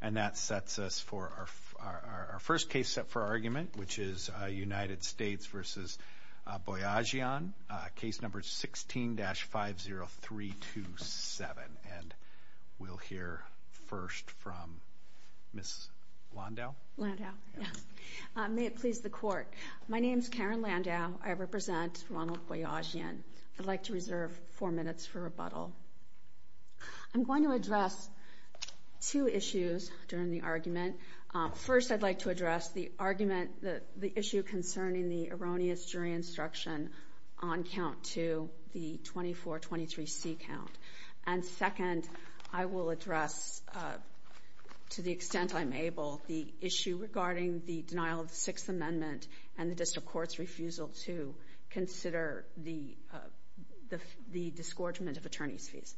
And that sets us for our first case set for argument, which is United States v. Boyajian, case number 16-50327. And we'll hear first from Ms. Landau. Landau, yes. May it please the Court. My name is Karen Landau. I represent Ronald Boyajian. I'm going to address two issues during the argument. First, I'd like to address the argument, the issue concerning the erroneous jury instruction on count 2, the 2423C count. And second, I will address, to the extent I'm able, the issue regarding the denial of the Sixth Amendment and the District Court's refusal to consider the disgorgement of attorney's fees.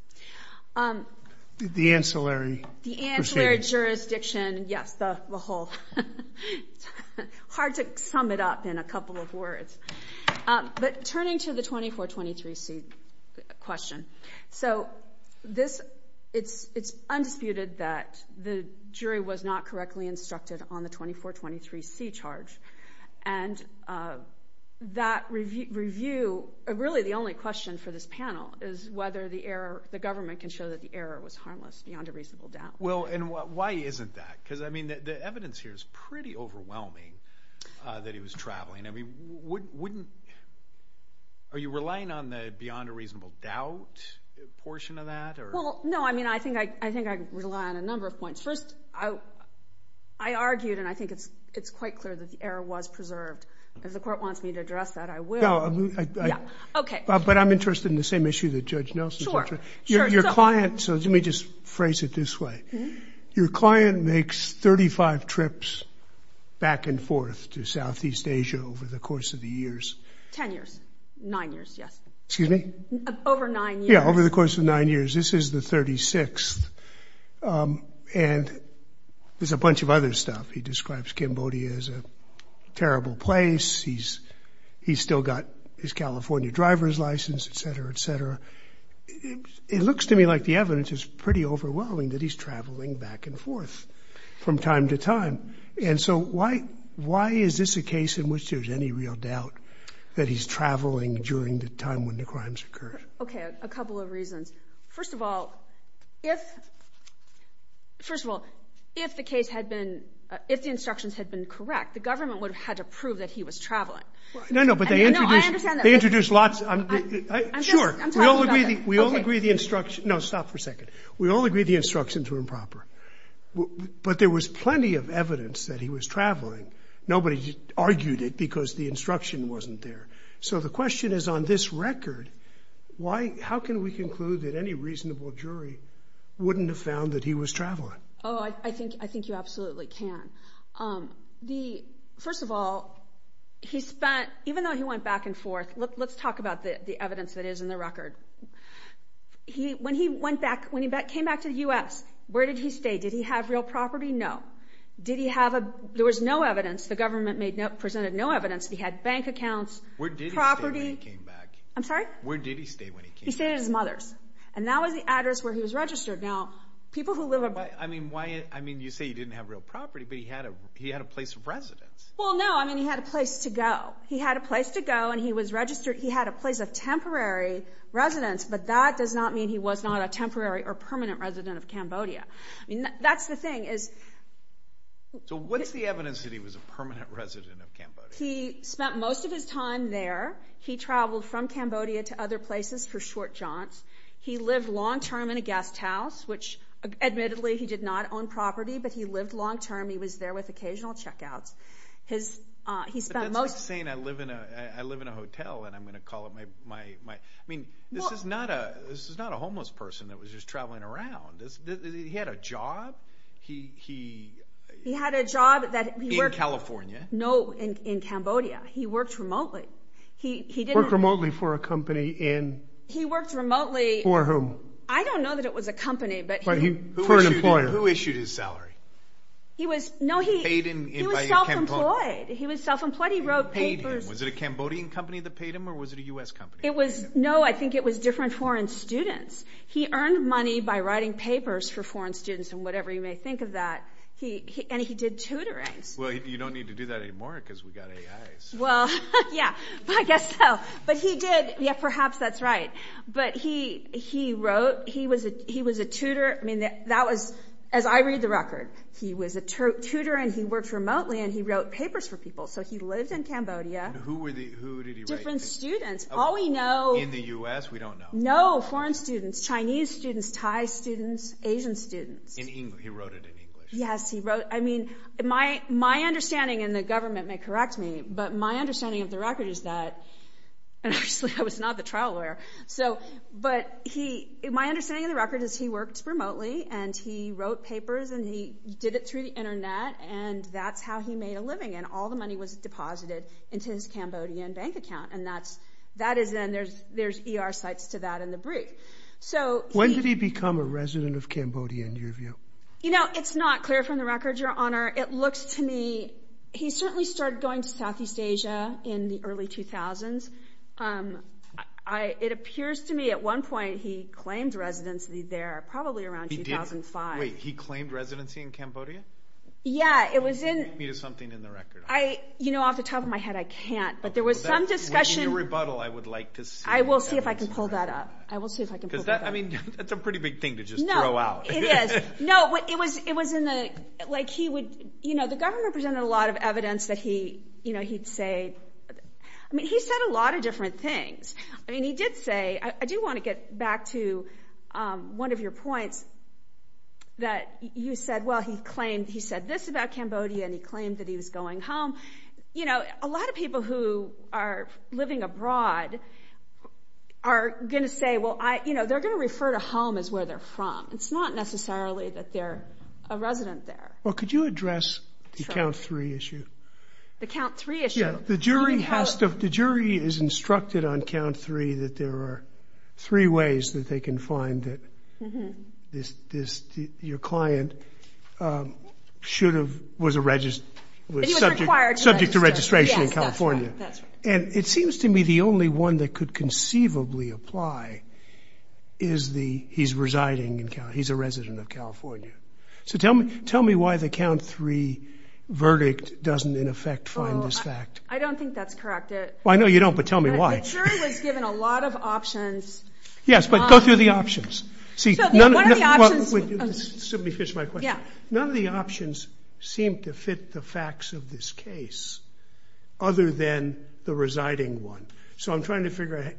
The ancillary proceedings. The ancillary jurisdiction, yes, the whole. It's hard to sum it up in a couple of words. But turning to the 2423C question, so it's undisputed that the jury was not correctly instructed on the 2423C charge. And that review, really the only question for this panel, is whether the government can show that the error was harmless beyond a reasonable doubt. Well, and why isn't that? Because, I mean, the evidence here is pretty overwhelming that he was traveling. I mean, wouldn't, are you relying on the beyond a reasonable doubt portion of that? Well, no, I mean, I think I rely on a number of points. First, I argued, and I think it's quite clear that the error was preserved. If the court wants me to address that, I will. Yeah. Okay. But I'm interested in the same issue that Judge Nelson's interested in. Sure. So let me just phrase it this way. Your client makes 35 trips back and forth to Southeast Asia over the course of the years. Ten years. Nine years, yes. Excuse me? Over nine years. Yeah, over the course of nine years. This is the 36th. And there's a bunch of other stuff. He describes Cambodia as a terrible place. He's still got his California driver's license, et cetera, et cetera. It looks to me like the evidence is pretty overwhelming that he's traveling back and forth from time to time. And so why is this a case in which there's any real doubt that he's traveling during the time when the crimes occurred? Okay, a couple of reasons. First of all, if the case had been, if the instructions had been correct, the government would have had to prove that he was traveling. No, no, but they introduced lots. Sure. We all agree the instructions were improper. But there was plenty of evidence that he was traveling. Nobody argued it because the instruction wasn't there. So the question is on this record, how can we conclude that any reasonable jury wouldn't have found that he was traveling? Oh, I think you absolutely can. First of all, even though he went back and forth, let's talk about the evidence that is in the record. When he came back to the U.S., where did he stay? Did he have real property? No. There was no evidence. The government presented no evidence. He had bank accounts, property. Where did he stay when he came back? I'm sorry? Where did he stay when he came back? He stayed at his mother's. And that was the address where he was registered. I mean, you say he didn't have real property, but he had a place of residence. Well, no. I mean, he had a place to go. He had a place to go, and he was registered. He had a place of temporary residence, but that does not mean he was not a temporary or permanent resident of Cambodia. I mean, that's the thing. So what's the evidence that he was a permanent resident of Cambodia? He spent most of his time there. He traveled from Cambodia to other places for short jaunts. He lived long-term in a guest house, which admittedly he did not own property, but he lived long-term. He was there with occasional checkouts. But that's not saying I live in a hotel and I'm going to call it my, I mean, this is not a homeless person that was just traveling around. He had a job. He had a job that he worked. In California? No, in Cambodia. He worked remotely. Worked remotely for a company in? He worked remotely. For whom? I don't know that it was a company, but for an employer. Who issued his salary? He was, no, he was self-employed. He was self-employed. He wrote papers. Was it a Cambodian company that paid him, or was it a U.S. company? It was, no, I think it was different foreign students. He earned money by writing papers for foreign students and whatever you may think of that, and he did tutoring. Well, you don't need to do that anymore because we've got AIs. Well, yeah, I guess so. But he did, yeah, perhaps that's right. But he wrote, he was a tutor. I mean, that was, as I read the record, he was a tutor, and he worked remotely, and he wrote papers for people. So he lived in Cambodia. Who did he write? Different students. All we know. In the U.S.? We don't know. No, foreign students, Chinese students, Thai students, Asian students. In English? He wrote it in English? Yes, he wrote, I mean, my understanding, and the government may correct me, but my understanding of the record is that, and obviously I was not the trial lawyer, but my understanding of the record is he worked remotely, and he wrote papers, and he did it through the Internet, and that's how he made a living, and all the money was deposited into his Cambodian bank account, and that is then, there's ER sites to that in the brief. When did he become a resident of Cambodia in your view? You know, it's not clear from the record, Your Honor. It looks to me, he certainly started going to Southeast Asia in the early 2000s. It appears to me at one point he claimed residency there probably around 2005. Wait, he claimed residency in Cambodia? Yeah, it was in. Take me to something in the record. You know, off the top of my head, I can't, but there was some discussion. With your rebuttal, I would like to see. I will see if I can pull that up. I will see if I can pull that up. Because that, I mean, that's a pretty big thing to just throw out. It is. No, it was in the, like he would, you know, the government presented a lot of evidence that he, you know, he'd say, I mean, he said a lot of different things. I mean, he did say, I do want to get back to one of your points that you said, well, he claimed, he said this about Cambodia, and he claimed that he was going home. You know, a lot of people who are living abroad are going to say, well, I, you know, they're going to refer to home as where they're from. It's not necessarily that they're a resident there. Well, could you address the count three issue? The count three issue. Yeah. The jury has to, the jury is instructed on count three that there are three ways that they can find that this, your client should have, was a, was subject to registration in California. Yes, that's right. is the, he's residing in, he's a resident of California. So tell me, tell me why the count three verdict doesn't, in effect, find this fact. I don't think that's correct. Well, I know you don't, but tell me why. The jury was given a lot of options. Yes, but go through the options. See, none of the options. Let me finish my question. Yeah. None of the options seem to fit the facts of this case other than the residing one. So I'm trying to figure out,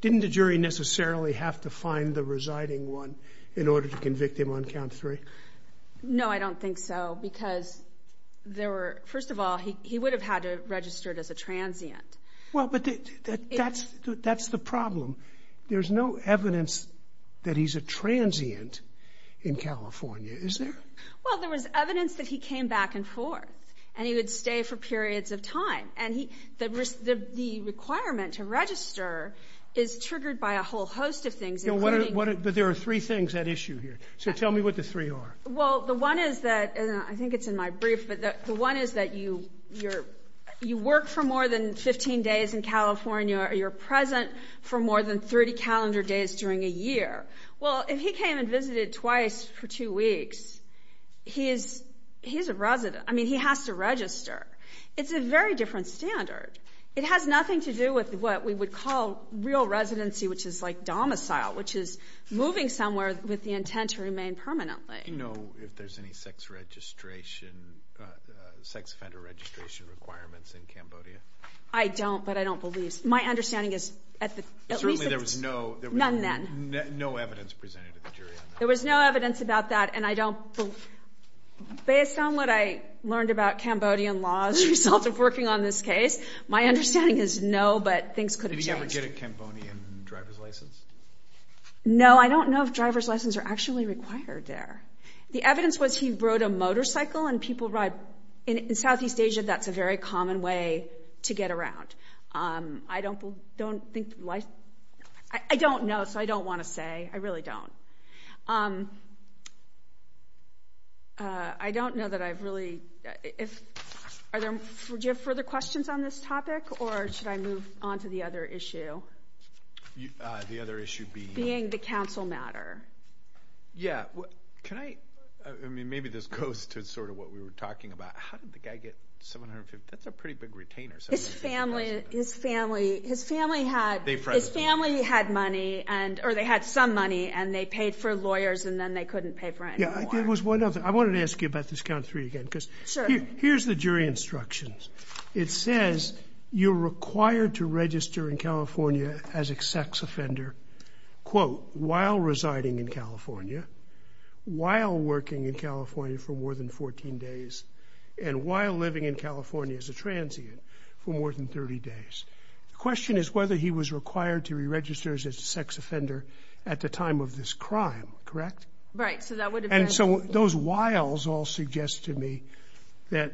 didn't the jury necessarily have to find the residing one in order to convict him on count three? No, I don't think so, because there were, first of all, he would have had to register it as a transient. Well, but that's the problem. There's no evidence that he's a transient in California, is there? Well, there was evidence that he came back and forth, and he would stay for periods of time. And the requirement to register is triggered by a whole host of things. But there are three things at issue here. So tell me what the three are. Well, the one is that, and I think it's in my brief, but the one is that you work for more than 15 days in California or you're present for more than 30 calendar days during a year. Well, if he came and visited twice for two weeks, he's a resident. I mean, he has to register. It's a very different standard. It has nothing to do with what we would call real residency, which is like domicile, which is moving somewhere with the intent to remain permanently. Do you know if there's any sex registration, sex offender registration requirements in Cambodia? I don't, but I don't believe so. My understanding is at least there was no evidence presented to the jury on that. Based on what I learned about Cambodian laws as a result of working on this case, my understanding is no, but things could have changed. Did he ever get a Cambodian driver's license? No, I don't know if driver's licenses are actually required there. The evidence was he rode a motorcycle and people ride. In Southeast Asia, that's a very common way to get around. I don't know, so I don't want to say. I really don't. I don't know that I've really—do you have further questions on this topic, or should I move on to the other issue? The other issue being? Being the counsel matter. Yeah, can I—I mean, maybe this goes to sort of what we were talking about. How did the guy get $750,000? That's a pretty big retainer. His family had money, or they had some money, and they paid for lawyers and then they couldn't pay for any more. Yeah, there was one other—I wanted to ask you about this count three again. Sure. Here's the jury instructions. It says you're required to register in California as a sex offender, quote, while residing in California, while working in California for more than 14 days, and while living in California as a transient for more than 30 days. The question is whether he was required to re-register as a sex offender at the time of this crime, correct? Right, so that would have been— And so those whiles all suggest to me that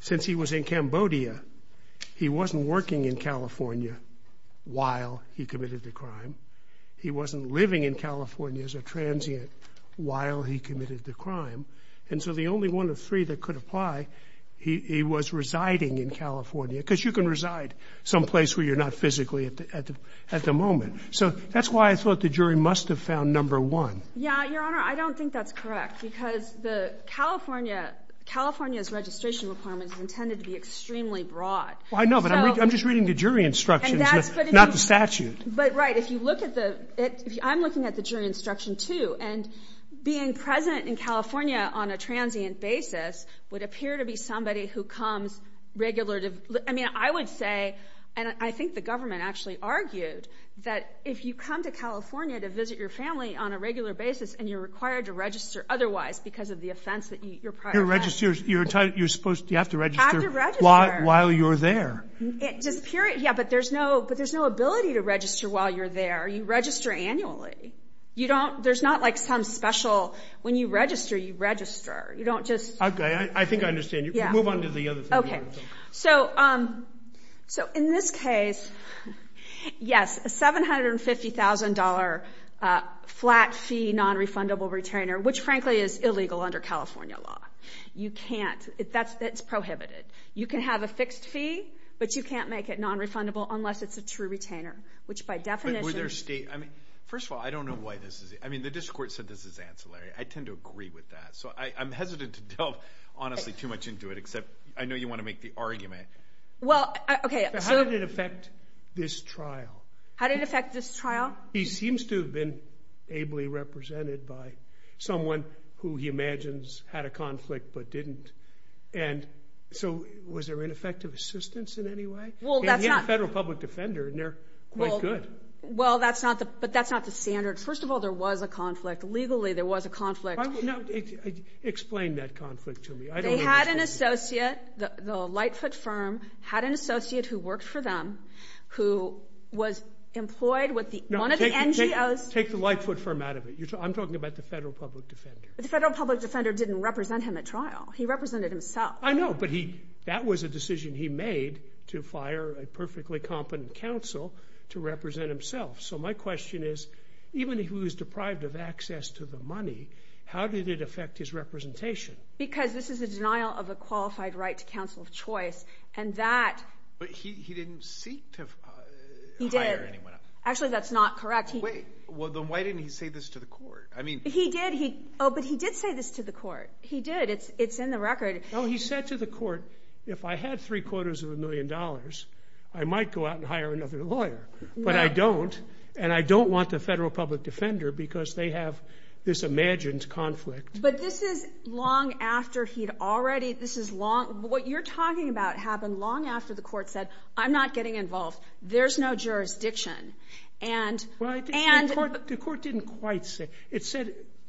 since he was in Cambodia, he wasn't working in California while he committed the crime. He wasn't living in California as a transient while he committed the crime. And so the only one of three that could apply, he was residing in California because you can reside someplace where you're not physically at the moment. So that's why I thought the jury must have found number one. Yeah, Your Honor, I don't think that's correct because California's registration requirements are intended to be extremely broad. I know, but I'm just reading the jury instructions, not the statute. But, right, if you look at the—I'm looking at the jury instruction too, and being present in California on a transient basis would appear to be somebody who comes regularly. I mean, I would say, and I think the government actually argued, that if you come to California to visit your family on a regular basis and you're required to register otherwise because of the offense that you're— You're supposed to register while you're there. Yeah, but there's no ability to register while you're there. You register annually. You don't—there's not like some special—when you register, you register. You don't just— Okay, I think I understand you. Yeah. Move on to the other thing. Okay. So in this case, yes, a $750,000 flat fee nonrefundable retainer, which frankly is illegal under California law. You can't—that's prohibited. You can have a fixed fee, but you can't make it nonrefundable unless it's a true retainer, which by definition— Were there state—I mean, first of all, I don't know why this is— I mean, the district court said this is ancillary. I tend to agree with that. So I'm hesitant to delve honestly too much into it, except I know you want to make the argument. Well, okay, so— How did it affect this trial? How did it affect this trial? He seems to have been ably represented by someone who he imagines had a conflict but didn't. And so was there ineffective assistance in any way? Well, that's not— And he had a federal public defender, and they're quite good. Well, that's not the—but that's not the standard. First of all, there was a conflict. Legally, there was a conflict. No, explain that conflict to me. I don't understand. They had an associate, the Lightfoot firm had an associate who worked for them who was employed with one of the NGOs— No, take the Lightfoot firm out of it. I'm talking about the federal public defender. But the federal public defender didn't represent him at trial. He represented himself. I know, but he—that was a decision he made to fire a perfectly competent counsel to represent himself. So my question is, even if he was deprived of access to the money, how did it affect his representation? Because this is a denial of a qualified right to counsel of choice, and that— But he didn't seek to hire anyone. He did. Actually, that's not correct. Wait. Well, then why didn't he say this to the court? I mean— He did. Oh, but he did say this to the court. He did. It's in the record. No, he said to the court, If I had three-quarters of a million dollars, I might go out and hire another lawyer. But I don't, and I don't want the federal public defender because they have this imagined conflict. But this is long after he'd already—this is long— What you're talking about happened long after the court said, I'm not getting involved. There's no jurisdiction. And— Well, the court didn't quite say— It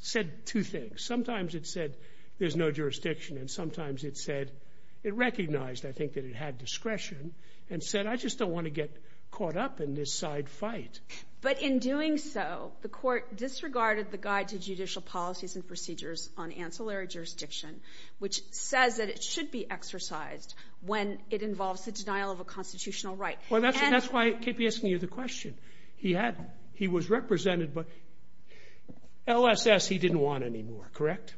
said two things. Sometimes it said there's no jurisdiction, and sometimes it said—it recognized, I think, that it had discretion and said, I just don't want to get caught up in this side fight. But in doing so, the court disregarded the Guide to Judicial Policies and Procedures on Ancillary Jurisdiction, which says that it should be exercised when it involves the denial of a constitutional right. Well, that's why I kept asking you the question. He had—he was represented by— LSS he didn't want anymore, correct?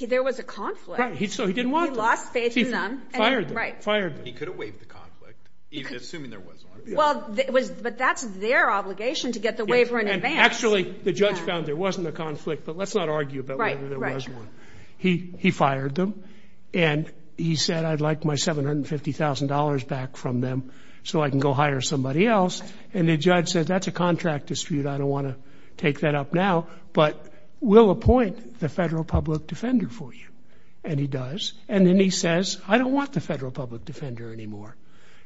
There was a conflict. So he didn't want them. He lost faith in them. He fired them. He could have waived the conflict, assuming there was one. But that's their obligation to get the waiver in advance. Actually, the judge found there wasn't a conflict, but let's not argue about whether there was one. He fired them, and he said, I'd like my $750,000 back from them so I can go hire somebody else. And the judge said, that's a contract dispute. I don't want to take that up now. But we'll appoint the federal public defender for you. And he does. And then he says, I don't want the federal public defender anymore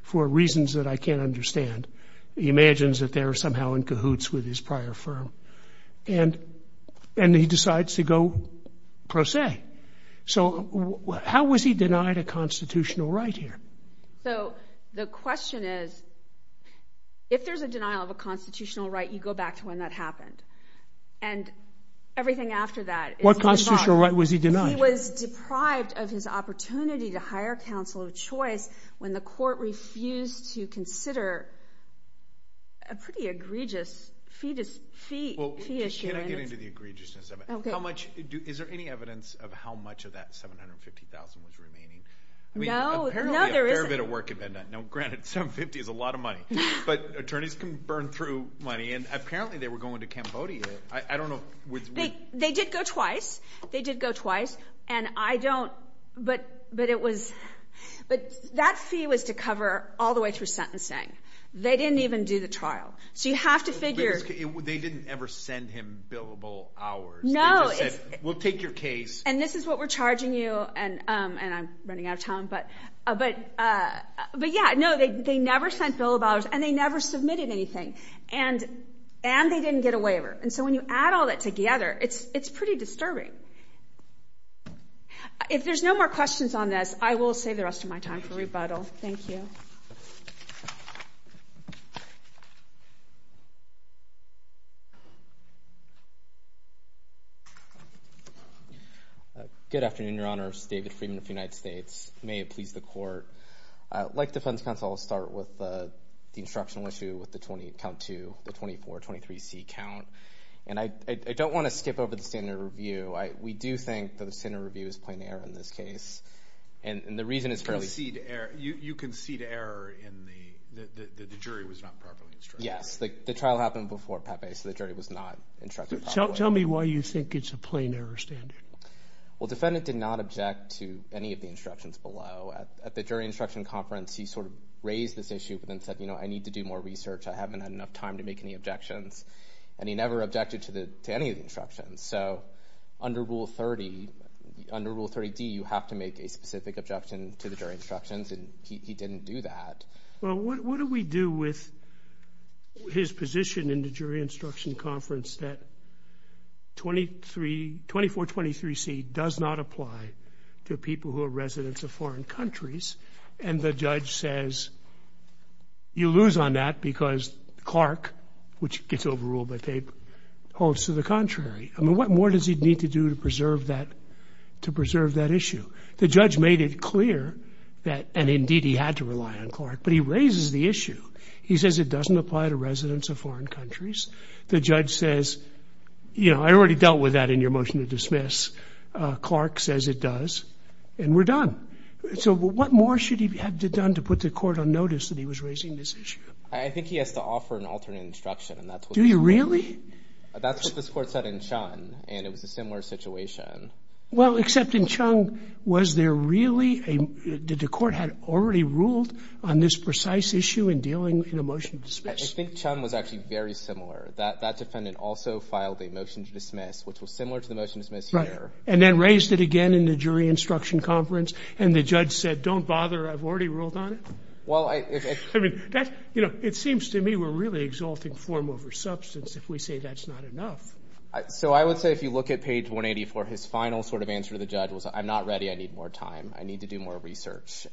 for reasons that I can't understand. He imagines that they're somehow in cahoots with his prior firm. And he decides to go pro se. So how was he denied a constitutional right here? So the question is, if there's a denial of a constitutional right, you go back to when that happened. And everything after that is not. What constitutional right was he denied? He was deprived of his opportunity to hire counsel of choice when the court refused to consider a pretty egregious fee issue. Can I get into the egregiousness of it? Is there any evidence of how much of that $750,000 was remaining? No, there isn't. Apparently a fair bit of work had been done. Now, granted, $750,000 is a lot of money. But attorneys can burn through money. And apparently they were going to Cambodia. I don't know. They did go twice. They did go twice. But that fee was to cover all the way through sentencing. They didn't even do the trial. So you have to figure. They didn't ever send him billable hours. No. They just said, we'll take your case. And this is what we're charging you. And I'm running out of time. But, yeah, no, they never sent billable hours. And they never submitted anything. And they didn't get a waiver. And so when you add all that together, it's pretty disturbing. If there's no more questions on this, I will save the rest of my time for rebuttal. Thank you. Good afternoon, Your Honors. David Freeman of the United States. May it please the Court. Like defense counsel, I'll start with the instructional issue with the count 2, the 2423C count. And I don't want to skip over the standard review. We do think that the standard review is plain error in this case. And the reason is fairly simple. You concede error in the jury was not properly instructed. Yes. The trial happened before Pepe. So the jury was not instructed properly. Tell me why you think it's a plain error standard. Well, the defendant did not object to any of the instructions below. At the jury instruction conference, he sort of raised this issue and then said, you know, I need to do more research. I haven't had enough time to make any objections. And he never objected to any of the instructions. So under Rule 30D, you have to make a specific objection to the jury instructions. And he didn't do that. Well, what do we do with his position in the jury instruction conference that 2423C does not apply to people who are residents of foreign countries? And the judge says you lose on that because Clark, which gets overruled by Pepe, holds to the contrary. I mean, what more does he need to do to preserve that issue? The judge made it clear that and indeed he had to rely on Clark, but he raises the issue. He says it doesn't apply to residents of foreign countries. The judge says, you know, I already dealt with that in your motion to dismiss. Clark says it does. And we're done. So what more should he have done to put the court on notice that he was raising this issue? I think he has to offer an alternate instruction. Do you really? That's what this court said in Chun. And it was a similar situation. Well, except in Chun was there really a the court had already ruled on this precise issue in dealing in a motion to dismiss. I think Chun was actually very similar. That defendant also filed a motion to dismiss, which was similar to the motion to dismiss here. And then raised it again in the jury instruction conference. And the judge said, don't bother. I've already ruled on it. Well, I mean, you know, it seems to me we're really exalting form over substance if we say that's not enough. So I would say if you look at page 184, his final sort of answer to the judge was, I'm not ready. I need more time. I need to do more research.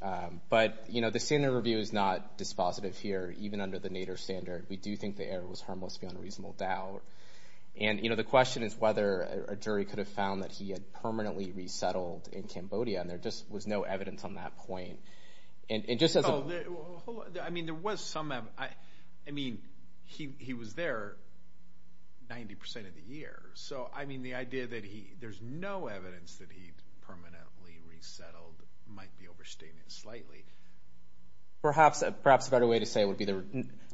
But, you know, the standard review is not dispositive here, even under the Nader standard. We do think the error was harmless beyond a reasonable doubt. And, you know, the question is whether a jury could have found that he had permanently resettled in Cambodia. And there just was no evidence on that point. I mean, there was some. I mean, he was there 90 percent of the year. So, I mean, the idea that there's no evidence that he permanently resettled might be overstated slightly. Perhaps a better way to say it would be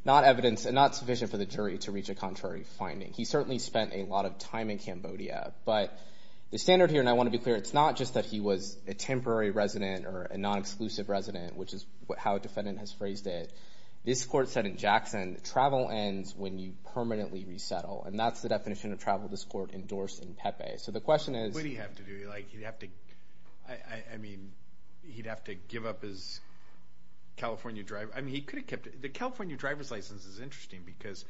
not evidence and not sufficient for the jury to reach a contrary finding. But the standard here, and I want to be clear, it's not just that he was a temporary resident or a non-exclusive resident, which is how a defendant has phrased it. This court said in Jackson, travel ends when you permanently resettle. And that's the definition of travel this court endorsed in Pepe. So the question is— What did he have to do? Like, he'd have to—I mean, he'd have to give up his California driver—I mean, he could have kept it. The California driver's license is interesting because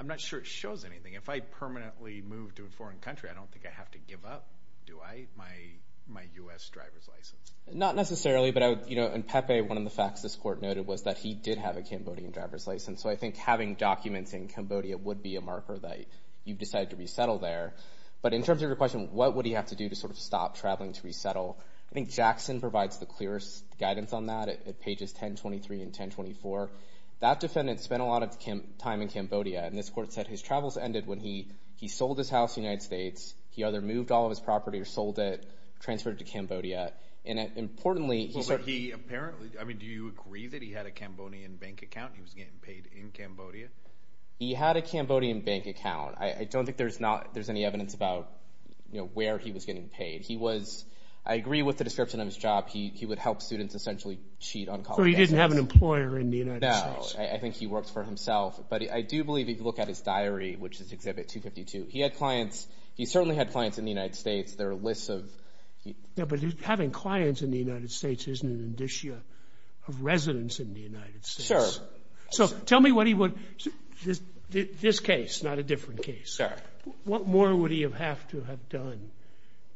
I'm not sure it shows anything. If I permanently moved to a foreign country, I don't think I'd have to give up, do I, my U.S. driver's license. Not necessarily, but I would—you know, in Pepe, one of the facts this court noted was that he did have a Cambodian driver's license. So I think having documents in Cambodia would be a marker that you've decided to resettle there. But in terms of your question, what would he have to do to sort of stop traveling to resettle, I think Jackson provides the clearest guidance on that at pages 1023 and 1024. That defendant spent a lot of time in Cambodia, and this court said his travels ended when he sold his house in the United States. He either moved all of his property or sold it, transferred it to Cambodia. And importantly— Well, but he apparently—I mean, do you agree that he had a Cambodian bank account and he was getting paid in Cambodia? He had a Cambodian bank account. I don't think there's not—there's any evidence about where he was getting paid. He was—I agree with the description of his job. He would help students essentially cheat on college exams. So he didn't have an employer in the United States. No, I think he worked for himself. But I do believe if you look at his diary, which is Exhibit 252, he had clients. He certainly had clients in the United States. There are lists of— Yeah, but having clients in the United States isn't an indicia of residence in the United States. Sure. So tell me what he would—this case, not a different case. Sure. What more would he have to have done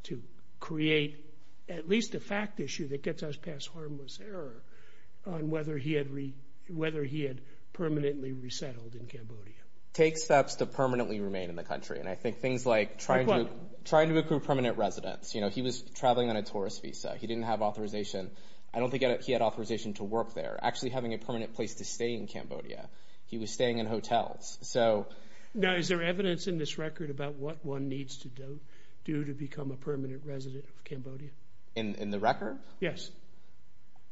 to create at least a fact issue that gets us past harmless error on whether he had permanently resettled in Cambodia? Take steps to permanently remain in the country. And I think things like trying to accrue permanent residence. You know, he was traveling on a tourist visa. He didn't have authorization. I don't think he had authorization to work there. Actually having a permanent place to stay in Cambodia, he was staying in hotels. Now, is there evidence in this record about what one needs to do to become a permanent resident of Cambodia? In the record? Yes.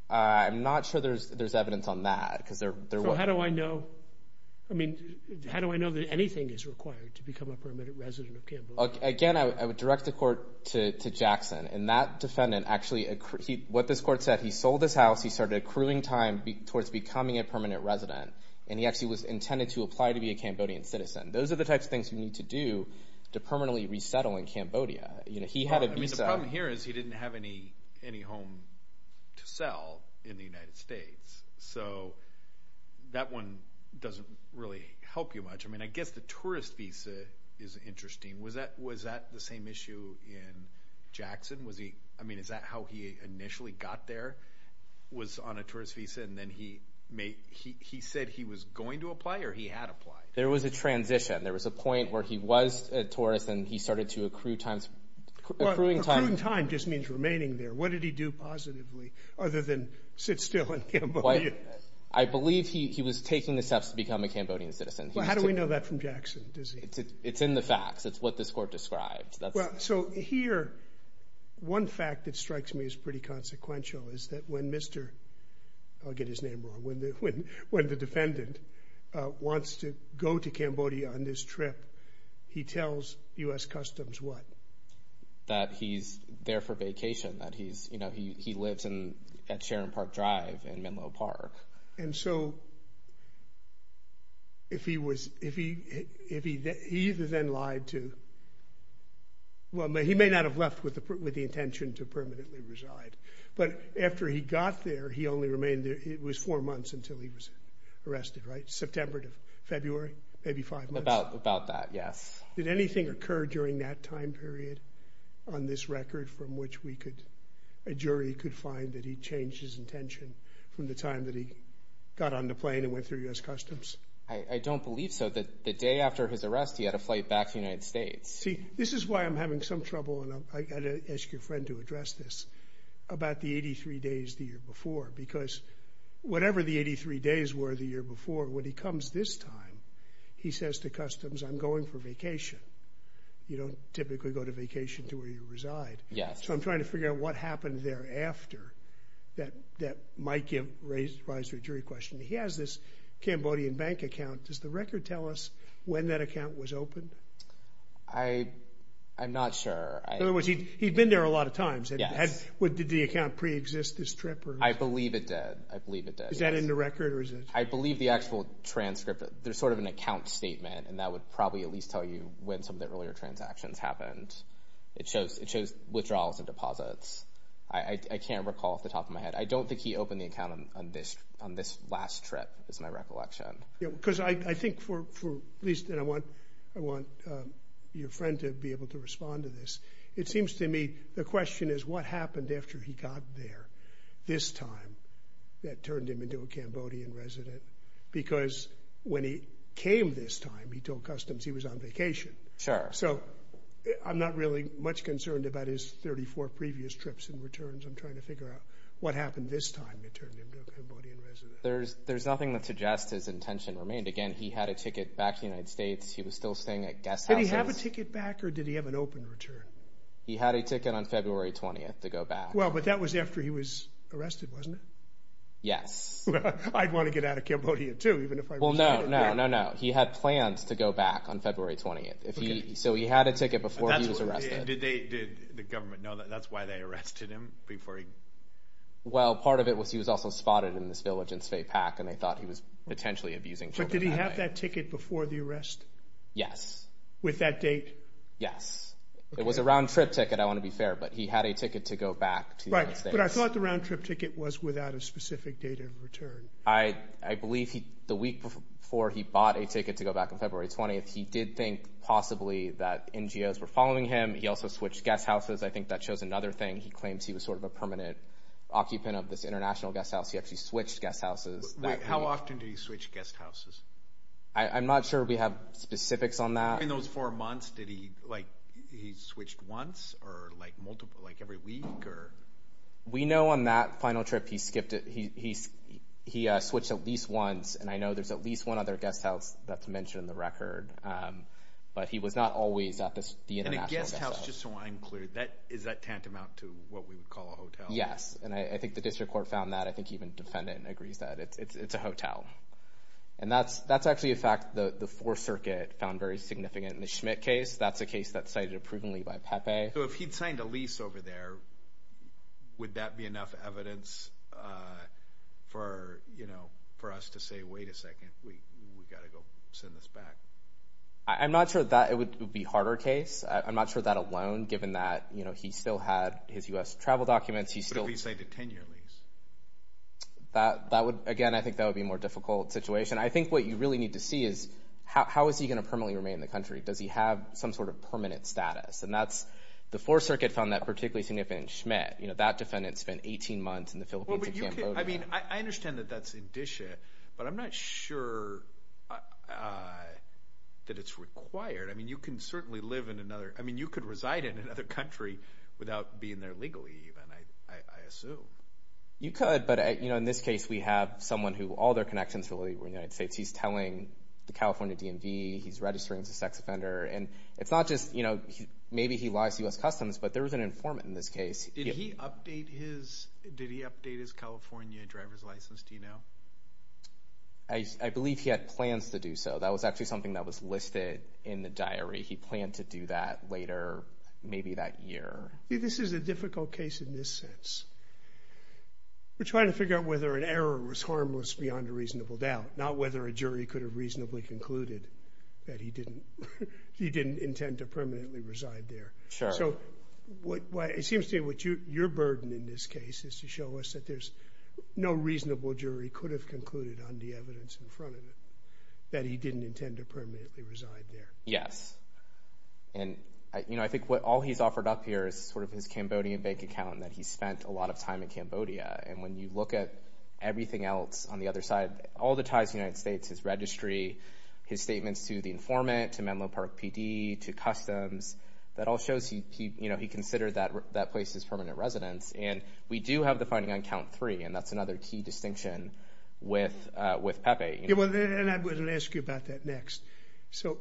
I'm not sure there's evidence on that. So how do I know—I mean, how do I know that anything is required to become a permanent resident of Cambodia? Again, I would direct the court to Jackson. And that defendant actually—what this court said, he sold his house. He started accruing time towards becoming a permanent resident. And he actually was intended to apply to be a Cambodian citizen. Those are the types of things you need to do to permanently resettle in Cambodia. You know, he had a visa. I mean, the problem here is he didn't have any home to sell in the United States. So that one doesn't really help you much. I mean, I guess the tourist visa is interesting. Was that the same issue in Jackson? Was he—I mean, is that how he initially got there was on a tourist visa? And then he said he was going to apply or he had applied? There was a transition. There was a point where he was a tourist and he started to accrue time. Well, accruing time just means remaining there. What did he do positively other than sit still in Cambodia? I believe he was taking the steps to become a Cambodian citizen. How do we know that from Jackson? It's in the facts. It's what this court described. Well, so here, one fact that strikes me as pretty consequential is that when Mr.—I'll get his name wrong. When the defendant wants to go to Cambodia on this trip, he tells U.S. Customs what? That he's there for vacation, that he lives at Sharon Park Drive in Menlo Park. And so if he was—he either then lied to—well, he may not have left with the intention to permanently reside. But after he got there, he only remained there—it was four months until he was arrested, right? September to February, maybe five months? About that, yes. Did anything occur during that time period on this record from which we could—a jury could find that he changed his intention from the time that he got on the plane and went through U.S. Customs? I don't believe so. The day after his arrest, he had a flight back to the United States. See, this is why I'm having some trouble, and I've got to ask your friend to address this, about the 83 days the year before. Because whatever the 83 days were the year before, when he comes this time, he says to Customs, I'm going for vacation. You don't typically go to vacation to where you reside. Yes. So I'm trying to figure out what happened thereafter that might give rise to a jury question. He has this Cambodian bank account. Does the record tell us when that account was opened? I'm not sure. In other words, he'd been there a lot of times. Yes. Did the account preexist this trip? I believe it did. Is that in the record, or is it—? I believe the actual transcript—there's sort of an account statement, and that would probably at least tell you when some of the earlier transactions happened. It shows withdrawals and deposits. I can't recall off the top of my head. I don't think he opened the account on this last trip, is my recollection. Because I think for—and I want your friend to be able to respond to this. It seems to me the question is, what happened after he got there this time that turned him into a Cambodian resident? Because when he came this time, he told Customs he was on vacation. Sure. So I'm not really much concerned about his 34 previous trips and returns. I'm trying to figure out what happened this time that turned him into a Cambodian resident. There's nothing that suggests his intention remained. Again, he had a ticket back to the United States. He was still staying at guest houses. Did he have a ticket back, or did he have an open return? He had a ticket on February 20th to go back. Well, but that was after he was arrested, wasn't it? Yes. I'd want to get out of Cambodia, too, even if I was— Well, no, no, no, no. He had plans to go back on February 20th. Okay. So he had a ticket before he was arrested. Did the government know that's why they arrested him before he— Well, part of it was he was also spotted in this village in Sepak, and they thought he was potentially abusing children. But did he have that ticket before the arrest? Yes. With that date? Yes. Okay. It was a round-trip ticket, I want to be fair, but he had a ticket to go back to the United States. Right, but I thought the round-trip ticket was without a specific date of return. I believe the week before he bought a ticket to go back on February 20th, he did think possibly that NGOs were following him. He also switched guesthouses. I think that shows another thing. He claims he was sort of a permanent occupant of this international guesthouse. He actually switched guesthouses. How often did he switch guesthouses? I'm not sure we have specifics on that. In those four months, did he—like, he switched once or like multiple—like every week or—? We know on that final trip he skipped it. He switched at least once, and I know there's at least one other guesthouse that's mentioned in the record. But he was not always at the international guesthouse. And a guesthouse, just so I'm clear, is that tantamount to what we would call a hotel? Yes, and I think the district court found that. I think even the defendant agrees that. It's a hotel. And that's actually a fact the Fourth Circuit found very significant in the Schmidt case. That's a case that's cited approvingly by Pepe. So if he'd signed a lease over there, would that be enough evidence for us to say, wait a second, we've got to go send this back? I'm not sure that would be a harder case. I'm not sure that alone, given that he still had his U.S. travel documents. What if he signed a 10-year lease? Again, I think that would be a more difficult situation. I think what you really need to see is how is he going to permanently remain in the country? Does he have some sort of permanent status? And the Fourth Circuit found that particularly significant in Schmidt. That defendant spent 18 months in the Philippines and can't vote again. I understand that that's indicia, but I'm not sure that it's required. I mean you can certainly live in another – I mean you could reside in another country without being there legally even, I assume. You could, but in this case we have someone who all their connections were in the United States. He's telling the California DMV. He's registering as a sex offender. And it's not just maybe he lies to U.S. Customs, but there was an informant in this case. Did he update his California driver's license? Do you know? I believe he had plans to do so. That was actually something that was listed in the diary. He planned to do that later, maybe that year. This is a difficult case in this sense. We're trying to figure out whether an error was harmless beyond a reasonable doubt, not whether a jury could have reasonably concluded that he didn't intend to permanently reside there. So it seems to me your burden in this case is to show us that there's no reasonable jury could have concluded on the evidence in front of it that he didn't intend to permanently reside there. Yes, and I think what all he's offered up here is sort of his Cambodian bank account and that he spent a lot of time in Cambodia. And when you look at everything else on the other side, all the ties to the United States, his registry, his statements to the informant, to Menlo Park PD, to Customs, that all shows he considered that place his permanent residence. And we do have the finding on count three, and that's another key distinction with Pepe. And I'm going to ask you about that next. So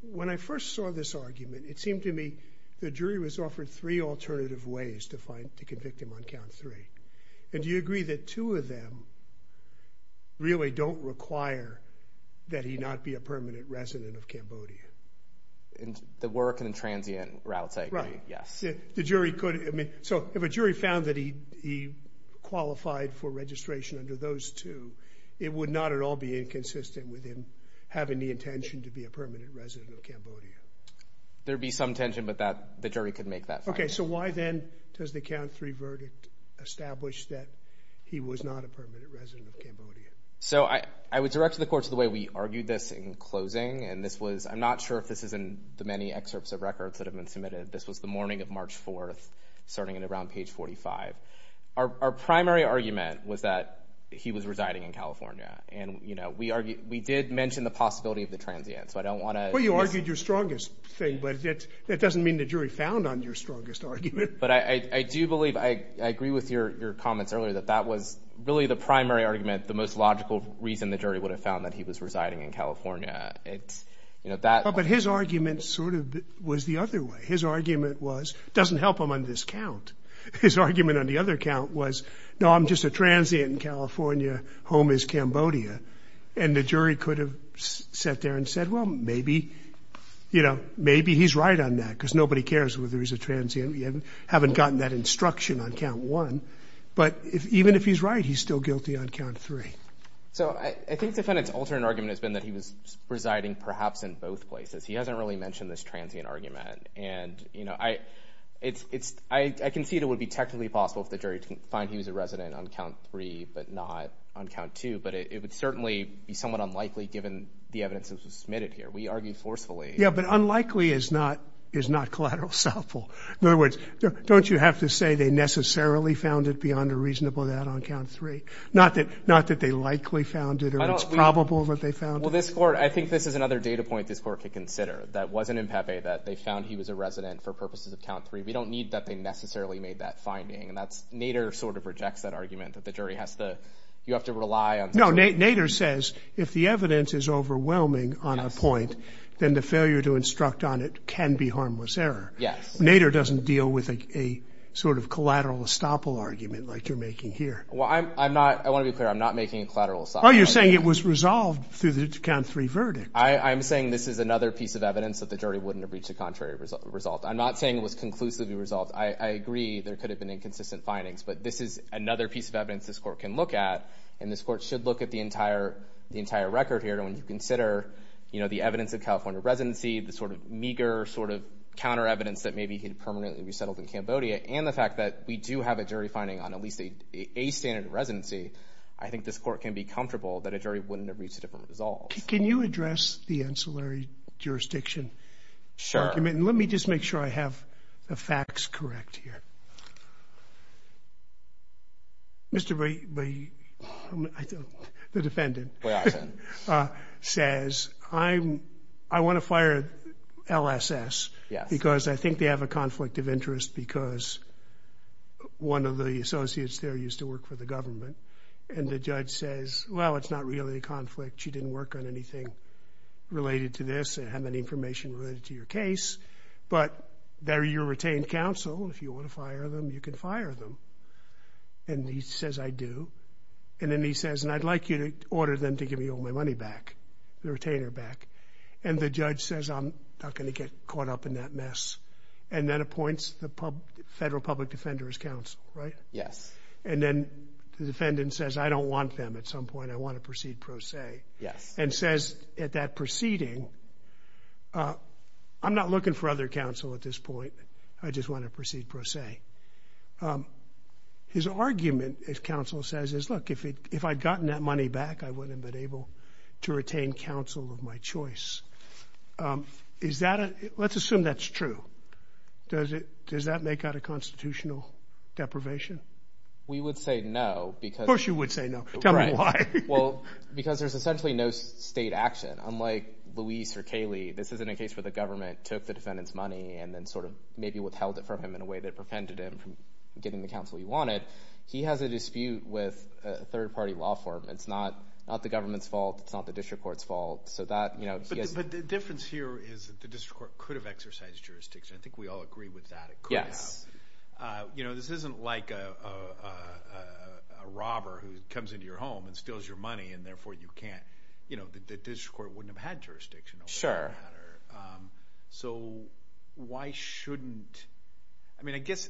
when I first saw this argument, it seemed to me the jury was offered three alternative ways to convict him on count three. And do you agree that two of them really don't require that he not be a permanent resident of Cambodia? In the work and transient routes, I agree, yes. So if a jury found that he qualified for registration under those two, it would not at all be inconsistent with him having the intention to be a permanent resident of Cambodia? There would be some tension, but the jury could make that finding. Okay, so why then does the count three verdict establish that he was not a permanent resident of Cambodia? So I would direct the court to the way we argued this in closing, and I'm not sure if this is in the many excerpts of records that have been submitted. This was the morning of March 4th, starting at around page 45. Our primary argument was that he was residing in California. And, you know, we did mention the possibility of the transient, so I don't want to— Well, you argued your strongest thing, but that doesn't mean the jury found on your strongest argument. But I do believe I agree with your comments earlier that that was really the primary argument, the most logical reason the jury would have found that he was residing in California. But his argument sort of was the other way. His argument was it doesn't help him on this count. His argument on the other count was, no, I'm just a transient in California. Home is Cambodia. And the jury could have sat there and said, well, maybe, you know, maybe he's right on that because nobody cares whether he's a transient. We haven't gotten that instruction on count one. But even if he's right, he's still guilty on count three. So I think the defendant's alternate argument has been that he was residing perhaps in both places. He hasn't really mentioned this transient argument. And, you know, I concede it would be technically possible for the jury to find he was a resident on count three but not on count two, but it would certainly be somewhat unlikely given the evidence that was submitted here. We argued forcefully. Yeah, but unlikely is not collateral selfful. In other words, don't you have to say they necessarily found it beyond a reasonable doubt on count three? Not that they likely found it or it's probable that they found it. Well, this Court—I think this is another data point this Court could consider. That wasn't in Pepe that they found he was a resident for purposes of count three. We don't need that they necessarily made that finding. And that's—Nader sort of rejects that argument that the jury has to—you have to rely on— No, Nader says if the evidence is overwhelming on a point, then the failure to instruct on it can be harmless error. Yes. Nader doesn't deal with a sort of collateral estoppel argument like you're making here. Well, I'm not—I want to be clear. I'm not making a collateral estoppel argument. Oh, you're saying it was resolved through the count three verdict. I'm saying this is another piece of evidence that the jury wouldn't have reached a contrary result. I'm not saying it was conclusively resolved. I agree there could have been inconsistent findings. But this is another piece of evidence this Court can look at, and this Court should look at the entire record here. And when you consider, you know, the evidence of California residency, the sort of meager sort of counter evidence that maybe he'd permanently resettled in Cambodia, and the fact that we do have a jury finding on at least a standard of residency, I think this Court can be comfortable that a jury wouldn't have reached a different result. Can you address the ancillary jurisdiction argument? Sure. And let me just make sure I have the facts correct here. Mr. B—the defendant says, I want to fire LSS. Yes. Because I think they have a conflict of interest because one of the associates there used to work for the government. And the judge says, well, it's not really a conflict. You didn't work on anything related to this and have any information related to your case. But they're your retained counsel. If you want to fire them, you can fire them. And he says, I do. And then he says, and I'd like you to order them to give me all my money back, the retainer back. And the judge says, I'm not going to get caught up in that mess. And then appoints the federal public defender as counsel, right? Yes. And then the defendant says, I don't want them at some point. I want to proceed pro se. Yes. And says at that proceeding, I'm not looking for other counsel at this point. I just want to proceed pro se. His argument, as counsel says, is, look, if I'd gotten that money back, I wouldn't have been able to retain counsel of my choice. Is that a—let's assume that's true. Does that make that a constitutional deprivation? We would say no because— Of course you would say no. Tell me why. Well, because there's essentially no state action. Unlike Luis or Kayleigh, this isn't a case where the government took the defendant's money and then sort of maybe withheld it from him in a way that prevented him from getting the counsel he wanted. He has a dispute with a third-party law firm. It's not the government's fault. It's not the district court's fault. But the difference here is that the district court could have exercised jurisdiction. I think we all agree with that. It could have. Yes. This isn't like a robber who comes into your home and steals your money and therefore you can't— the district court wouldn't have had jurisdiction over that matter. Sure. So why shouldn't—I mean, I guess,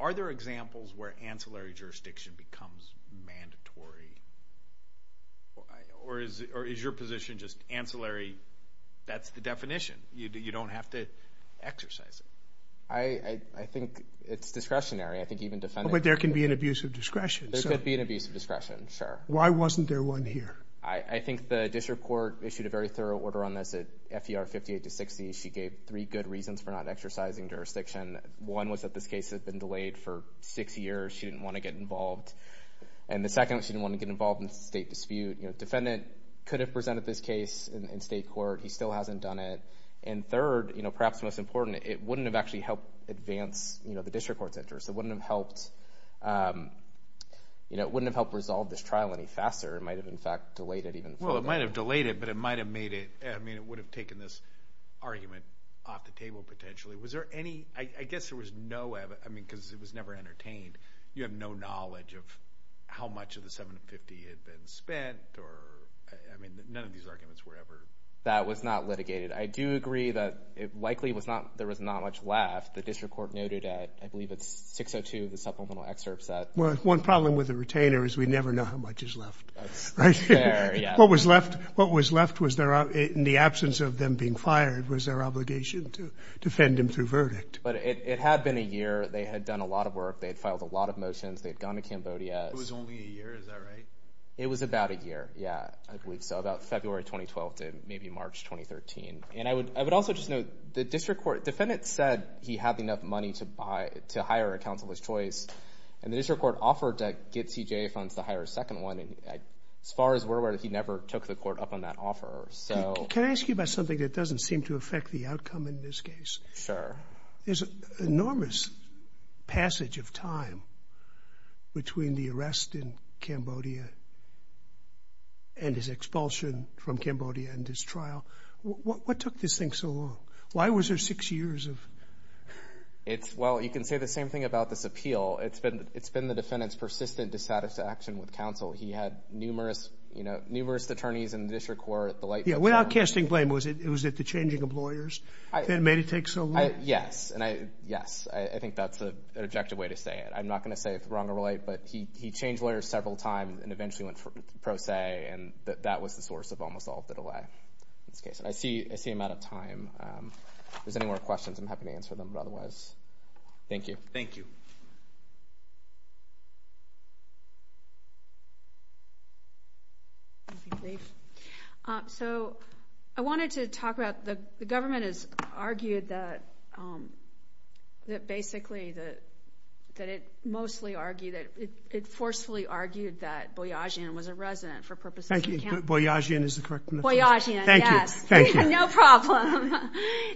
are there examples where ancillary jurisdiction becomes mandatory? Or is your position just ancillary? That's the definition. You don't have to exercise it. I think it's discretionary. I think even defending— But there can be an abuse of discretion. There could be an abuse of discretion, sure. Why wasn't there one here? I think the district court issued a very thorough order on this at FER 58 to 60. She gave three good reasons for not exercising jurisdiction. One was that this case had been delayed for six years. She didn't want to get involved. And the second was she didn't want to get involved in a state dispute. A defendant could have presented this case in state court. He still hasn't done it. And third, perhaps most important, it wouldn't have actually helped advance the district court's interest. It wouldn't have helped resolve this trial any faster. It might have, in fact, delayed it even further. Well, it might have delayed it, but it might have made it—I mean, it would have taken this argument off the table potentially. Was there any—I guess there was no—I mean, because it was never entertained. You have no knowledge of how much of the 750 had been spent or—I mean, none of these arguments were ever— That was not litigated. I do agree that it likely was not—there was not much left. The district court noted at, I believe it's 602 of the supplemental excerpts that— Well, one problem with the retainer is we never know how much is left. That's fair, yes. What was left was there—in the absence of them being fired was their obligation to defend him through verdict. But it had been a year. They had done a lot of work. They had filed a lot of motions. They had gone to Cambodia. It was only a year. Is that right? It was about a year. Yeah, I believe so. About February 2012 to maybe March 2013. And I would also just note the district court—the defendant said he had enough money to hire a counsel of his choice. And the district court offered to get CJA funds to hire a second one. And as far as we're aware, he never took the court up on that offer. Can I ask you about something that doesn't seem to affect the outcome in this case? Sure. There's an enormous passage of time between the arrest in Cambodia and his expulsion from Cambodia and his trial. What took this thing so long? Why was there six years of—? Well, you can say the same thing about this appeal. It's been the defendant's persistent dissatisfaction with counsel. He had numerous attorneys in the district court. Yeah, without casting blame, was it the changing of lawyers that made it take so long? Yes. Yes. I think that's an objective way to say it. I'm not going to say it's wrong or right, but he changed lawyers several times and eventually went pro se, and that was the source of almost all of the delay in this case. I see I'm out of time. If there's any more questions, I'm happy to answer them. But otherwise, thank you. Thank you. So I wanted to talk about the government has argued that basically that it mostly argued that—it forcefully argued that Boyajian was a resident for purposes of— Thank you. Boyajian is the correct pronunciation? Boyajian, yes. Thank you. Thank you. No problem.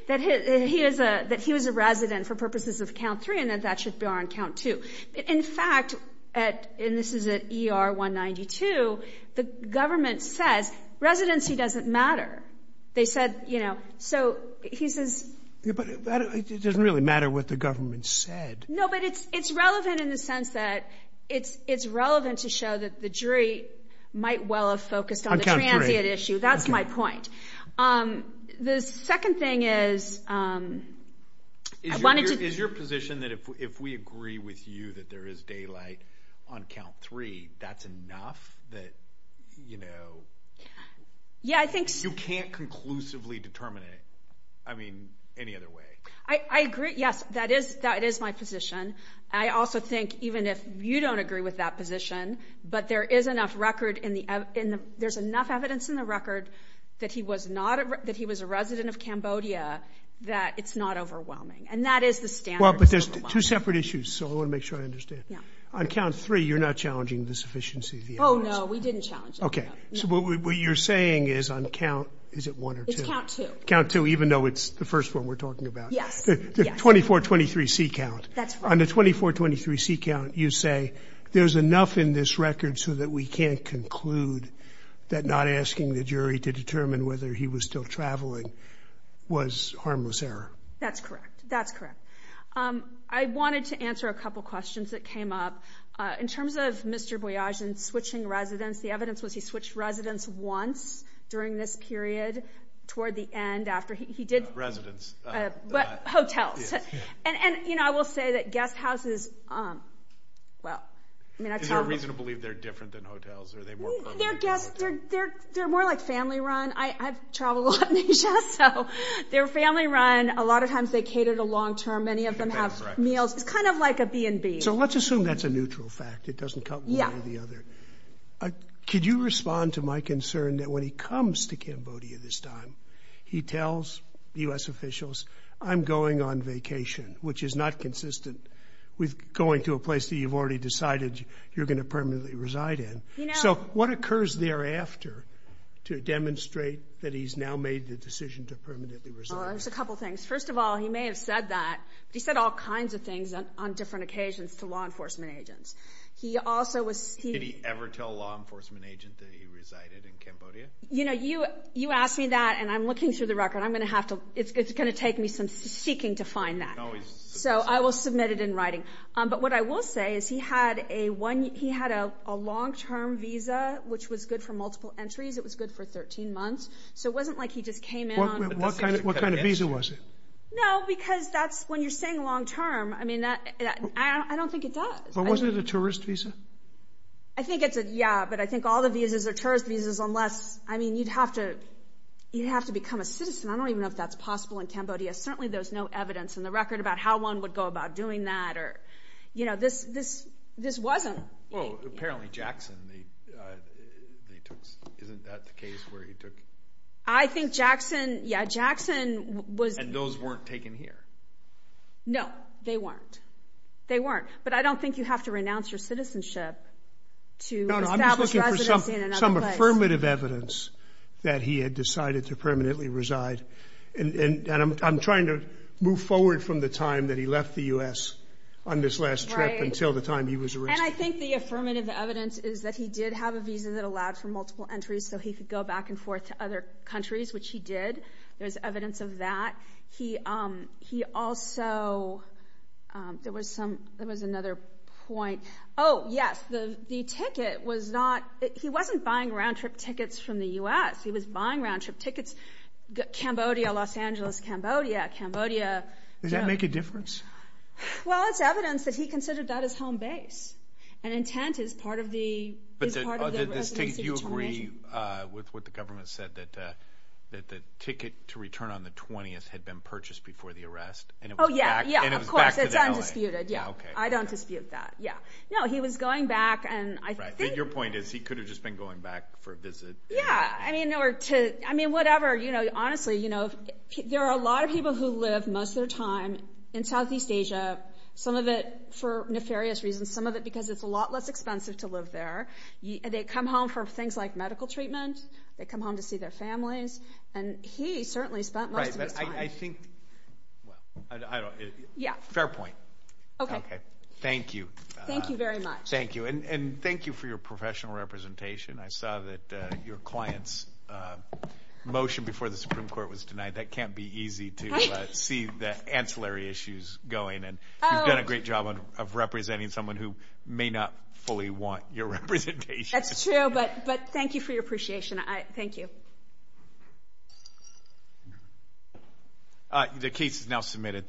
That he was a resident for purposes of count three and that that should be on count two. In fact, and this is at ER 192, the government says residency doesn't matter. They said—so he says— But it doesn't really matter what the government said. No, but it's relevant in the sense that it's relevant to show that the jury might well have focused on the transient issue. That's my point. The second thing is— Is your position that if we agree with you that there is daylight on count three, that's enough that, you know— Yeah, I think— You can't conclusively determine it, I mean, any other way. I agree. Yes, that is my position. I also think even if you don't agree with that position, but there is enough record in the—there's enough evidence in the record that he was not—that he was a resident of Cambodia that it's not overwhelming. And that is the standard. Well, but there's two separate issues, so I want to make sure I understand. Yeah. On count three, you're not challenging the sufficiency of the evidence. Oh, no, we didn't challenge it, no. Okay. So what you're saying is on count—is it one or two? It's count two. Count two, even though it's the first one we're talking about. Yes, yes. The 2423C count. That's right. On the 2423C count, you say there's enough in this record so that we can't conclude that not asking the jury to determine whether he was still traveling was harmless error. That's correct. That's correct. I wanted to answer a couple questions that came up. In terms of Mr. Boyajian switching residents, the evidence was he switched residents once during this period toward the end after he did— Residents. Hotels. Yes. Hotels. And, you know, I will say that guest houses—well, I mean, I tell them— Is there a reason to believe they're different than hotels? Are they more permanent? They're guests. They're more like family-run. I've traveled a lot in Asia, so they're family-run. A lot of times they cater to long-term. Many of them have meals. That's right. It's kind of like a B&B. So let's assume that's a neutral fact. It doesn't cut one way or the other. Yeah. Could you respond to my concern that when he comes to Cambodia this time, he tells U.S. officials, I'm going on vacation, which is not consistent with going to a place that you've already decided you're going to permanently reside in. So what occurs thereafter to demonstrate that he's now made the decision to permanently reside in? Well, there's a couple things. First of all, he may have said that, but he said all kinds of things on different occasions to law enforcement agents. Did he ever tell a law enforcement agent that he resided in Cambodia? You know, you ask me that, and I'm looking through the record. It's going to take me some seeking to find that. So I will submit it in writing. But what I will say is he had a long-term visa, which was good for multiple entries. It was good for 13 months. So it wasn't like he just came in on a six-week vacation. What kind of visa was it? No, because that's when you're saying long-term. I mean, I don't think it does. But wasn't it a tourist visa? I think it's a, yeah, but I think all the visas are tourist visas unless, I mean, you'd have to become a citizen. I don't even know if that's possible in Cambodia. Certainly there's no evidence in the record about how one would go about doing that or, you know, this wasn't. Well, apparently Jackson, they took, isn't that the case where he took? I think Jackson, yeah, Jackson was. And those weren't taken here? No, they weren't. They weren't. But I don't think you have to renounce your citizenship to establish residency in another place. No, no, I'm just looking for some affirmative evidence that he had decided to permanently reside. And I'm trying to move forward from the time that he left the U.S. on this last trip until the time he was arrested. And I think the affirmative evidence is that he did have a visa that allowed for multiple entries so he could go back and forth to other countries, which he did. There's evidence of that. He also, there was another point. Oh, yes, the ticket was not, he wasn't buying round-trip tickets from the U.S. He was buying round-trip tickets, Cambodia, Los Angeles, Cambodia, Cambodia. Does that make a difference? Well, it's evidence that he considered that his home base. And intent is part of the residency determination. Did he agree with what the government said, that the ticket to return on the 20th had been purchased before the arrest? Oh, yeah, yeah, of course. And it was back to the L.A. It's undisputed, yeah. I don't dispute that, yeah. No, he was going back. Your point is he could have just been going back for a visit. Yeah, I mean, whatever. Honestly, there are a lot of people who live most of their time in Southeast Asia, some of it for nefarious reasons, some of it because it's a lot less expensive to live there. They come home for things like medical treatment. They come home to see their families. And he certainly spent most of his time. Right, but I think, well, fair point. Okay. Thank you. Thank you very much. Thank you. And thank you for your professional representation. I saw that your client's motion before the Supreme Court was denied. That can't be easy to see the ancillary issues going. You've done a great job of representing someone who may not fully want your representation. That's true, but thank you for your appreciation. Thank you. The case is now submitted.